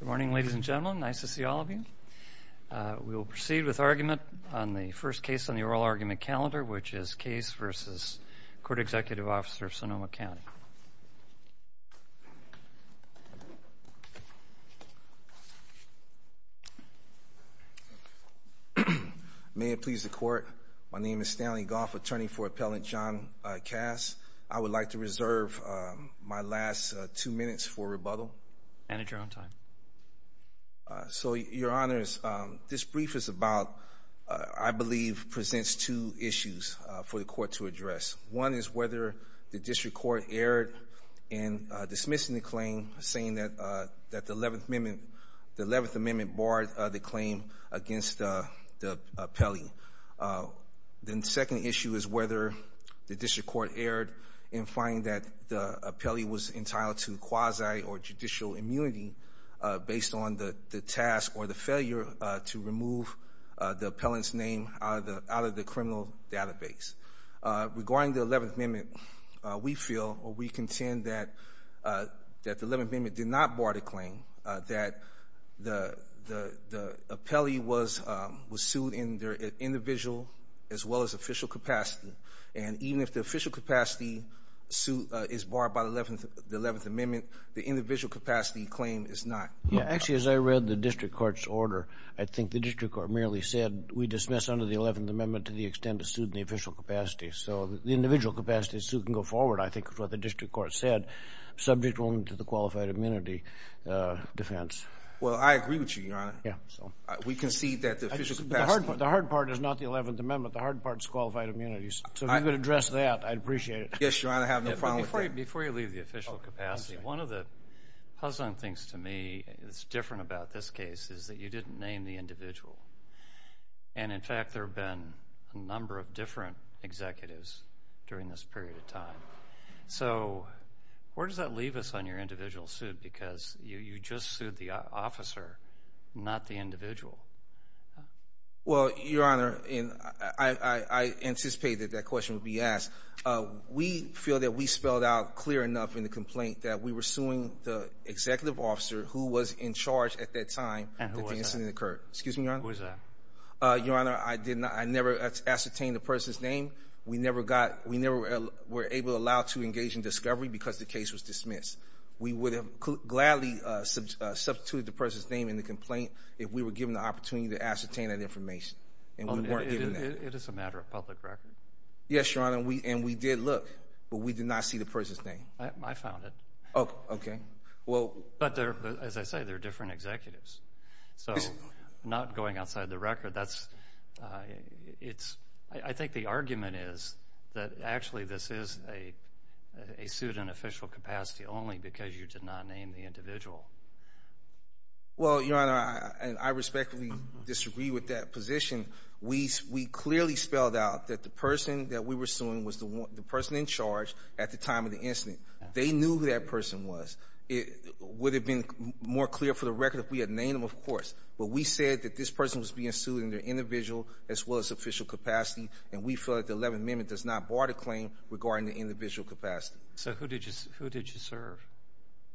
Good morning, ladies and gentlemen. Nice to see all of you. We will proceed with argument on the first case on the oral argument calendar, which is Case v. Court Executive Officer, Sonoma County. May it please the Court, my name is Stanley Goff, attorney for Appellant John Cast. I would like to reserve my last two minutes for rebuttal. Manager, on time. So, Your Honors, this brief is about, I believe, presents two issues for the Court to address. One is whether the district court erred in dismissing the claim, saying that the 11th Amendment barred the claim against the appellee. The second issue is whether the district court erred in finding that the appellee was entitled to quasi or judicial immunity based on the task or the failure to remove the appellant's name out of the criminal database. Regarding the 11th Amendment, we feel or we contend that the 11th Amendment did not bar the claim, that the appellee was sued in their individual as well as official capacity. And even if the official capacity suit is barred by the 11th Amendment, the individual capacity claim is not. Yeah, actually, as I read the district court's order, I think the district court merely said, we dismiss under the 11th Amendment to the extent it's sued in the official capacity. So the individual capacity suit can go forward, I think, is what the district court said, subject only to the qualified immunity defense. Well, I agree with you, Your Honor. Yeah. We concede that the official capacity. The hard part is not the 11th Amendment. The hard part is qualified immunities. So if you could address that, I'd appreciate it. Yes, Your Honor, I have no problem with that. Before you leave the official capacity, one of the puzzling things to me that's different about this case is that you didn't name the individual. And, in fact, there have been a number of different executives during this period of time. So where does that leave us on your individual suit? Because you just sued the officer, not the individual. Well, Your Honor, I anticipate that that question would be asked. We feel that we spelled out clear enough in the complaint that we were suing the executive officer who was in charge at that time that the incident occurred. And who was that? Excuse me, Your Honor. Who was that? Your Honor, I never ascertained the person's name. We never were able to allow to engage in discovery because the case was dismissed. We would have gladly substituted the person's name in the complaint if we were given the opportunity to ascertain that information. And we weren't given that. It is a matter of public record. Yes, Your Honor. And we did look, but we did not see the person's name. I found it. Okay. But, as I say, they're different executives. So not going outside the record. I think the argument is that actually this is a suit in official capacity only because you did not name the individual. Well, Your Honor, I respectfully disagree with that position. We clearly spelled out that the person that we were suing was the person in charge at the time of the incident. They knew who that person was. It would have been more clear for the record if we had named them, of course. But we said that this person was being sued in their individual as well as official capacity, and we feel that the Eleventh Amendment does not bar the claim regarding the individual capacity. So who did you serve?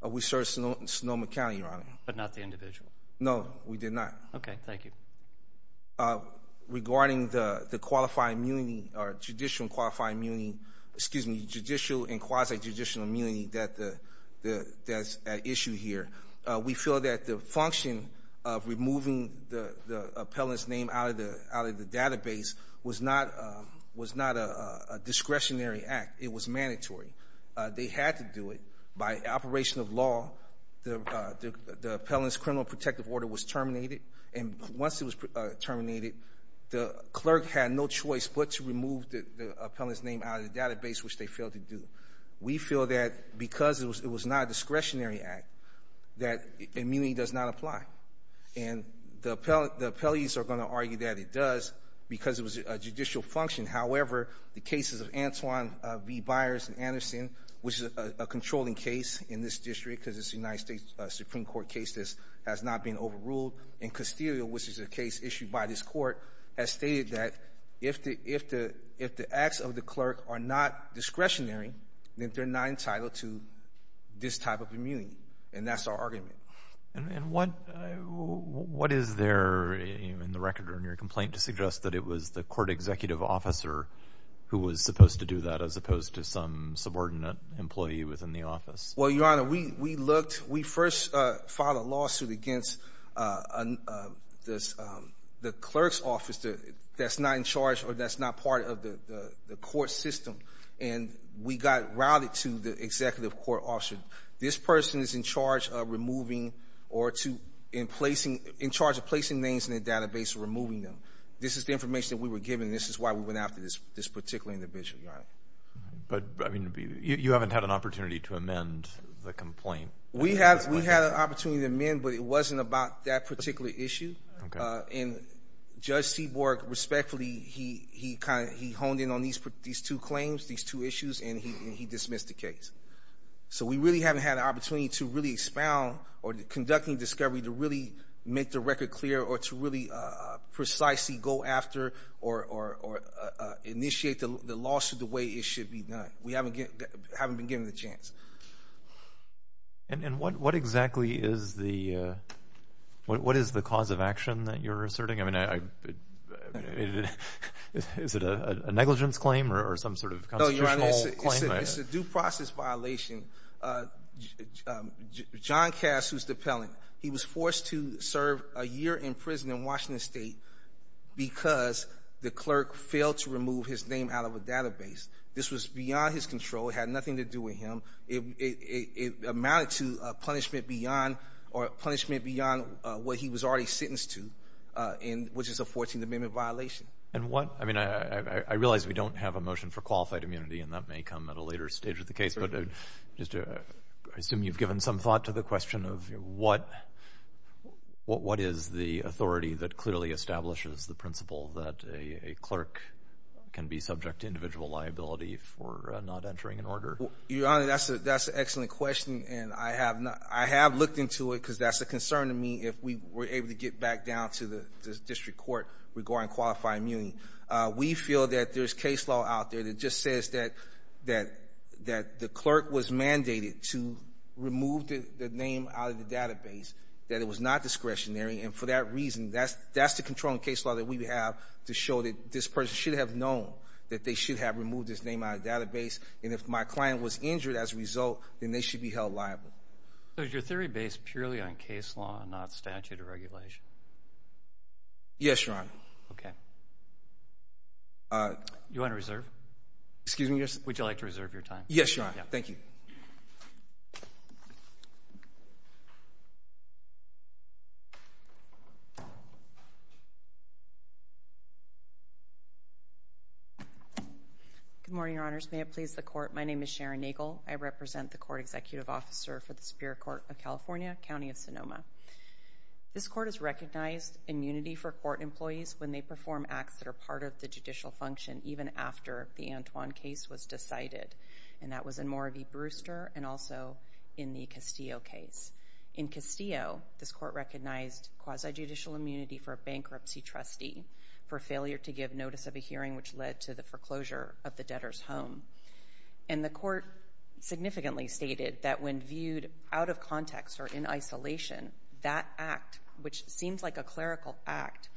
We served Sonoma County, Your Honor. But not the individual. No, we did not. Okay. Thank you. Regarding the qualified immunity or judicial and qualified immunity, excuse me, judicial and quasi-judicial immunity that's at issue here, we feel that the function of removing the appellant's name out of the database was not a discretionary act. It was mandatory. They had to do it. By operation of law, the appellant's criminal protective order was terminated, and once it was terminated, the clerk had no choice but to remove the appellant's name out of the database, which they failed to do. We feel that because it was not a discretionary act, that immunity does not apply. And the appellees are going to argue that it does because it was a judicial function. However, the cases of Antoine B. Byers and Anderson, which is a controlling case in this district because it's a United States Supreme Court case that has not been overruled, and Castillo, which is a case issued by this court, has stated that if the acts of the clerk are not discretionary, then they're not entitled to this type of immunity, and that's our argument. And what is there in the record in your complaint to suggest that it was the court executive officer who was supposed to do that as opposed to some subordinate employee within the office? Well, Your Honor, we looked. We first filed a lawsuit against the clerk's office that's not in charge or that's not part of the court system, and we got routed to the executive court officer. This person is in charge of removing or in charge of placing names in the database or removing them. This is the information that we were given, and this is why we went after this particular individual, Your Honor. But, I mean, you haven't had an opportunity to amend the complaint. We had an opportunity to amend, but it wasn't about that particular issue. Okay. And Judge Seaborg, respectfully, he honed in on these two claims, these two issues, and he dismissed the case. So we really haven't had an opportunity to really expound or conducting discovery to really make the record clear or to really precisely go after or initiate the lawsuit the way it should be done. We haven't been given the chance. And what exactly is the cause of action that you're asserting? I mean, is it a negligence claim or some sort of constitutional claim? No, Your Honor, it's a due process violation. John Cass, who's the appellant, he was forced to serve a year in prison in Washington State because the clerk failed to remove his name out of a database. This was beyond his control. It had nothing to do with him. It amounted to punishment beyond what he was already sentenced to, which is a 14th Amendment violation. And what ñ I mean, I realize we don't have a motion for qualified immunity, and that may come at a later stage of the case, but I assume you've given some thought to the question of what is the authority that clearly establishes the principle that a clerk can be subject to individual liability for not entering an order? Your Honor, that's an excellent question, and I have looked into it because that's a concern to me if we were able to get back down to the district court regarding qualified immunity. We feel that there's case law out there that just says that the clerk was mandated to remove the name out of the database, that it was not discretionary, and for that reason, that's the controlling case law that we have to show that this person should have known that they should have removed this name out of the database, and if my client was injured as a result, then they should be held liable. So is your theory based purely on case law and not statute or regulation? Yes, Your Honor. Okay. Do you want to reserve? Excuse me? Would you like to reserve your time? Yes, Your Honor. Thank you. Good morning, Your Honors. May it please the Court, my name is Sharon Nagel. I represent the Court Executive Officer for the Superior Court of California, County of Sonoma. This Court has recognized immunity for court employees when they perform acts that are part of the judicial function, even after the Antoine case was decided, and that was in Moravie-Brewster and also in the Castillo case. In Castillo, this Court recognized quasi-judicial immunity for a bankruptcy trustee for failure to give notice of a hearing which led to the foreclosure of the debtor's home, and the Court significantly stated that when viewed out of context or in isolation, that act, which seems like a clerical act,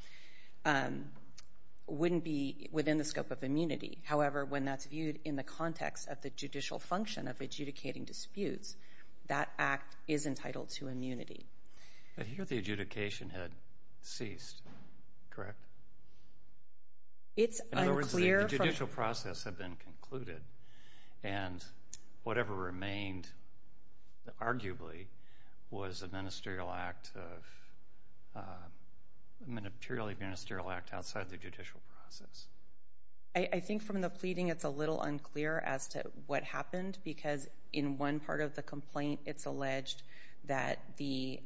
wouldn't be within the scope of immunity. However, when that's viewed in the context of the judicial function of adjudicating disputes, that act is entitled to immunity. I hear the adjudication had ceased, correct? It's unclear. In other words, the judicial process had been concluded, and whatever remained, arguably, was a ministerial act of, a materially ministerial act outside the judicial process. I think from the pleading, it's a little unclear as to what happened, because in one part of the complaint, it's alleged that the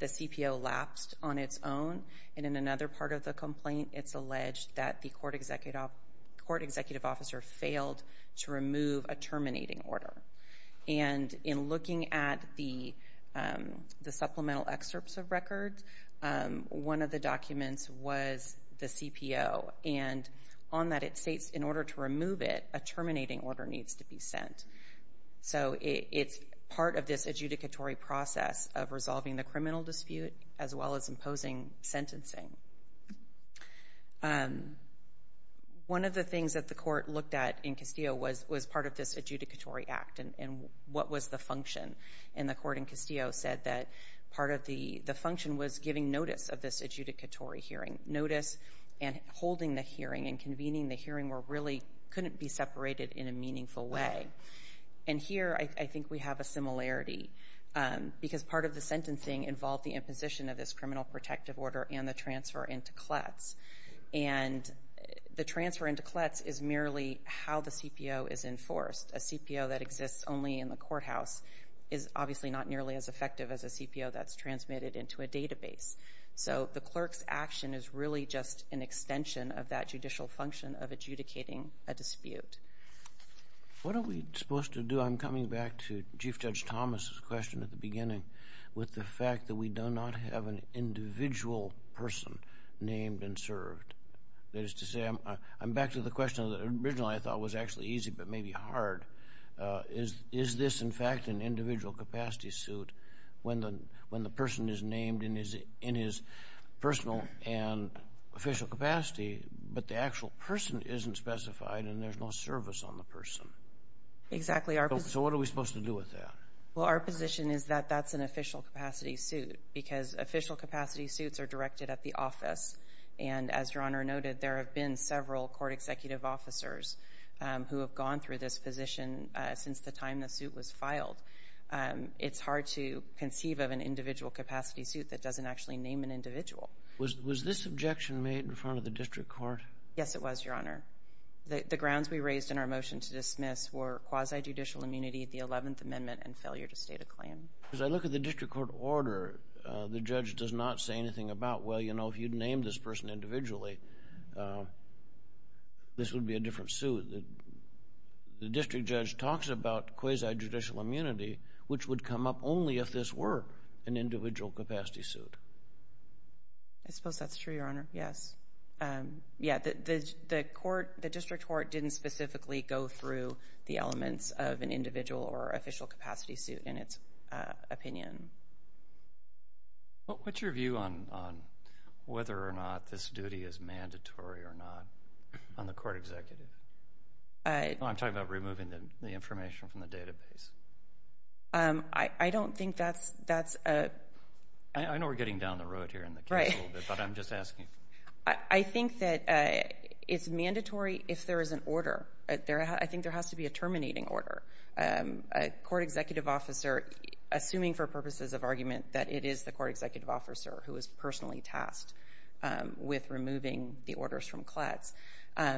CPO lapsed on its own, and in another part of the complaint, it's alleged that the court executive officer failed to remove a terminating order. And in looking at the supplemental excerpts of records, one of the documents was the CPO, and on that it states in order to remove it, a terminating order needs to be sent. So it's part of this adjudicatory process of resolving the criminal dispute as well as imposing sentencing. One of the things that the court looked at in Castillo was part of this adjudicatory act, and what was the function. And the court in Castillo said that part of the function was giving notice of this adjudicatory hearing. Notice and holding the hearing and convening the hearing really couldn't be separated in a meaningful way. And here I think we have a similarity, because part of the sentencing involved the imposition of this criminal protective order and the transfer into CLETS. And the transfer into CLETS is merely how the CPO is enforced. A CPO that exists only in the courthouse is obviously not nearly as effective as a CPO that's transmitted into a database. So the clerk's action is really just an extension of that judicial function of adjudicating a dispute. What are we supposed to do? I'm coming back to Chief Judge Thomas' question at the beginning with the fact that we do not have an individual person named and served. That is to say, I'm back to the question that originally I thought was actually easy but may be hard. Is this, in fact, an individual capacity suit when the person is named in his personal and official capacity but the actual person isn't specified and there's no service on the person? Exactly. So what are we supposed to do with that? Well, our position is that that's an official capacity suit because official capacity suits are directed at the office. And as Your Honor noted, there have been several court executive officers who have gone through this position since the time the suit was filed. It's hard to conceive of an individual capacity suit that doesn't actually name an individual. Was this objection made in front of the district court? Yes, it was, Your Honor. The grounds we raised in our motion to dismiss were quasi-judicial immunity, the 11th Amendment, and failure to state a claim. As I look at the district court order, the judge does not say anything about, well, you know, if you'd named this person individually, this would be a different suit. The district judge talks about quasi-judicial immunity, which would come up only if this were an individual capacity suit. I suppose that's true, Your Honor, yes. Yeah, the district court didn't specifically go through the elements of an individual or official capacity suit in its opinion. What's your view on whether or not this duty is mandatory or not on the court executive? I'm talking about removing the information from the database. I don't think that's a... I know we're getting down the road here in the case a little bit, but I'm just asking. I think that it's mandatory if there is an order. I think there has to be a terminating order. A court executive officer, assuming for purposes of argument that it is the court executive officer who is personally tasked with removing the orders from CLATS, I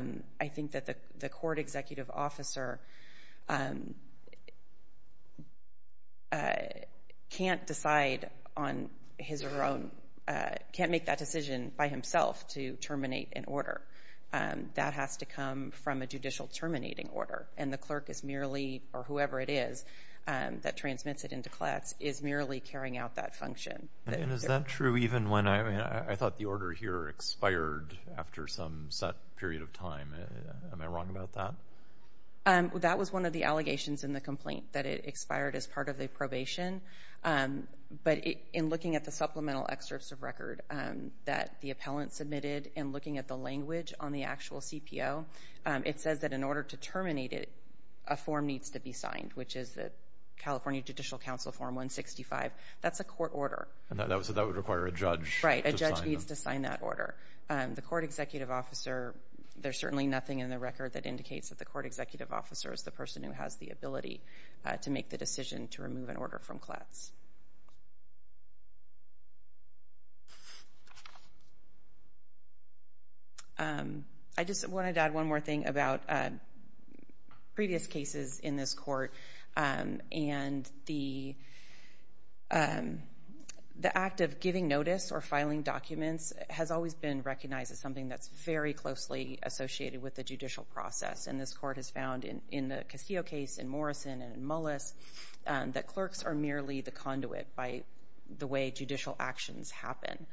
think that the court executive officer can't decide on his or her own, can't make that decision by himself to terminate an order. That has to come from a judicial terminating order, and the clerk is merely, or whoever it is that transmits it into CLATS, is merely carrying out that function. And is that true even when I thought the order here expired after some set period of time? Am I wrong about that? That was one of the allegations in the complaint, that it expired as part of the probation. But in looking at the supplemental excerpts of record that the appellant submitted and looking at the language on the actual CPO, it says that in order to terminate it, a form needs to be signed, which is the California Judicial Council Form 165. That's a court order. So that would require a judge? Right, a judge needs to sign that order. The court executive officer, there's certainly nothing in the record that indicates that the court executive officer is the person who has the ability to make the decision to remove an order from CLATS. I just wanted to add one more thing about previous cases in this court and the act of giving notice or filing documents has always been recognized as something that's very closely associated with the judicial process. And this court has found in the Castillo case and Morrison and Mullis that clerks are merely the conduit by the way judicial actions happen.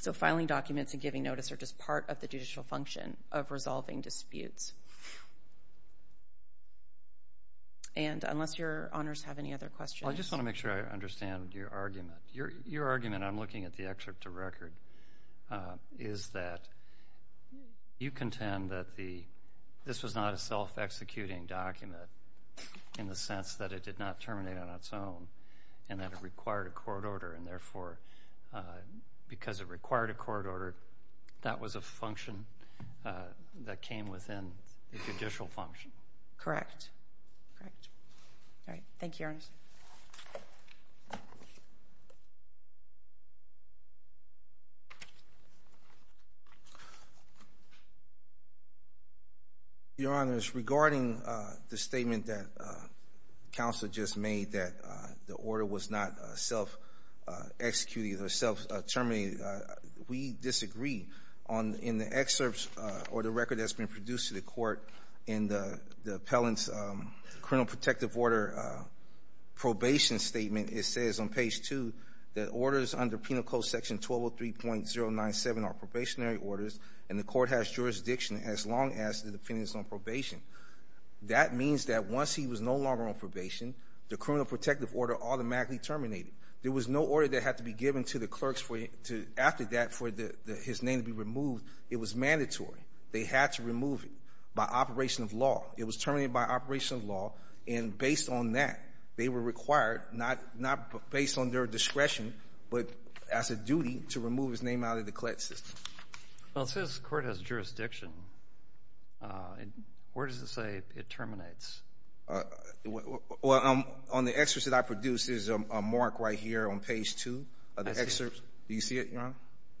So filing documents and giving notice are just part of the judicial function of resolving disputes. Unless your honors have any other questions. I just want to make sure I understand your argument. Your argument, I'm looking at the excerpt to record, is that you contend that this was not a self-executing document in the sense that it did not terminate on its own and that it required a court order and therefore because it required a court order, that was a function that came within the judicial function. Correct. All right. Thank you, your honors. Your honors, regarding the statement that counsel just made that the order was not self-executing or self-terminating, we disagree in the excerpts or the record that's been produced to the court in the appellant's criminal protective order probation statement. It says on page 2 that orders under penal code section 1203.097 are probationary orders and the court has jurisdiction as long as the defendant is on probation. That means that once he was no longer on probation, the criminal protective order automatically terminated. There was no order that had to be given to the clerks after that for his name to be removed. It was mandatory. They had to remove it by operation of law. It was terminated by operation of law and based on that, they were required, not based on their discretion, but as a duty to remove his name out of the collect system. Well, it says the court has jurisdiction. Where does it say it terminates? Well, on the excerpt that I produced, there's a mark right here on page 2. Do you see it, your honor?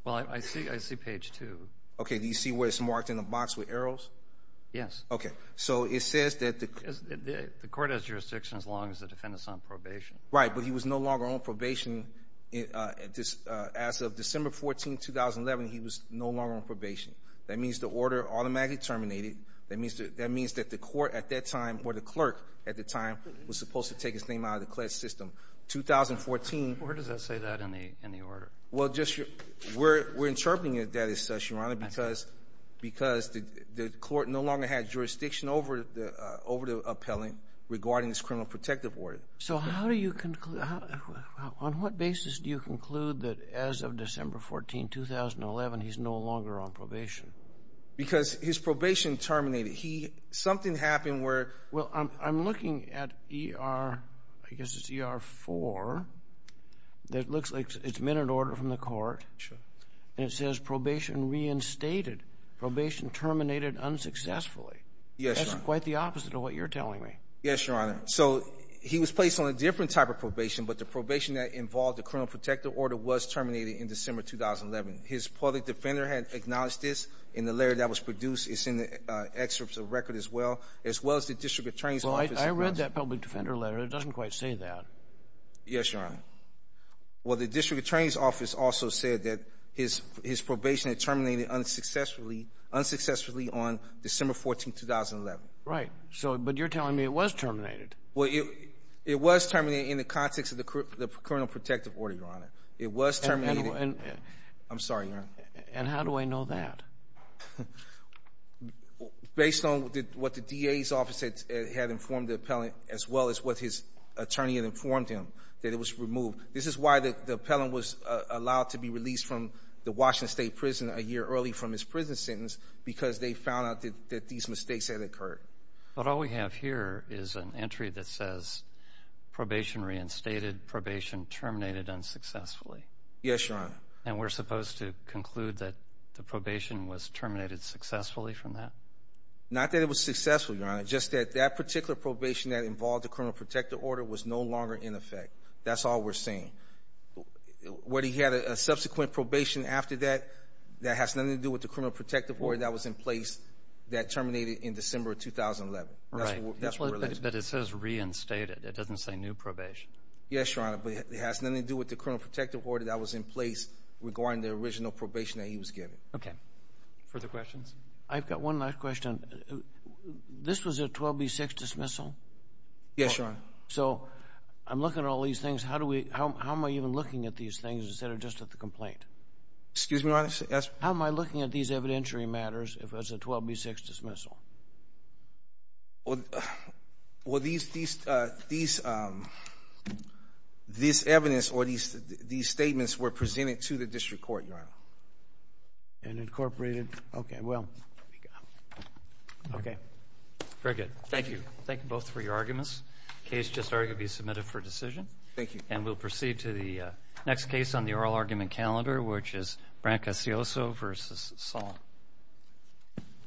Well, I see page 2. Okay. Do you see where it's marked in the box with arrows? Yes. Okay. So it says that the court has jurisdiction as long as the defendant is on probation. Right, but he was no longer on probation as of December 14, 2011. He was no longer on probation. That means the order automatically terminated. That means that the court at that time or the clerk at the time was supposed to take his name out of the collect system. 2014. Where does that say that in the order? Well, we're interpreting that as such, your honor, because the court no longer had jurisdiction over the appellant regarding this criminal protective order. So on what basis do you conclude that as of December 14, 2011, he's no longer on probation? Because his probation terminated. Something happened where. Well, I'm looking at ER, I guess it's ER 4. It looks like it's a minute order from the court. Sure. And it says probation reinstated. Probation terminated unsuccessfully. Yes, your honor. That's quite the opposite of what you're telling me. Yes, your honor. So he was placed on a different type of probation, but the probation that involved the criminal protective order was terminated in December 2011. His public defender had acknowledged this, and the letter that was produced is in the excerpts of the record as well, as well as the district attorney's office. Well, I read that public defender letter. It doesn't quite say that. Yes, your honor. Well, the district attorney's office also said that his probation had terminated unsuccessfully on December 14, 2011. Right. But you're telling me it was terminated. Well, it was terminated in the context of the criminal protective order, your honor. It was terminated. I'm sorry, your honor. And how do I know that? Based on what the DA's office had informed the appellant, as well as what his attorney had informed him, that it was removed. This is why the appellant was allowed to be released from the Washington State Prison a year early from his prison sentence, because they found out that these mistakes had occurred. But all we have here is an entry that says probation reinstated, probation terminated unsuccessfully. Yes, your honor. And we're supposed to conclude that the probation was terminated successfully from that? Not that it was successful, your honor. Just that that particular probation that involved the criminal protective order was no longer in effect. That's all we're saying. Whether he had a subsequent probation after that, that has nothing to do with the criminal protective order that was in place that terminated in December of 2011. Right. But it says reinstated. It doesn't say new probation. Yes, your honor. But it has nothing to do with the criminal protective order that was in place regarding the original probation that he was given. Okay. Further questions? I've got one last question. This was a 12B6 dismissal? Yes, your honor. So I'm looking at all these things. How am I even looking at these things instead of just at the complaint? Excuse me, your honor. How am I looking at these evidentiary matters if it was a 12B6 dismissal? Well, these evidence or these statements were presented to the district court, your honor. And incorporated? Okay. Well, there we go. Okay. Very good. Thank you. Thank you both for your arguments. The case just arguably submitted for decision. Thank you. And we'll proceed to the next case on the oral argument calendar, which is Branca Cioso v. Saul.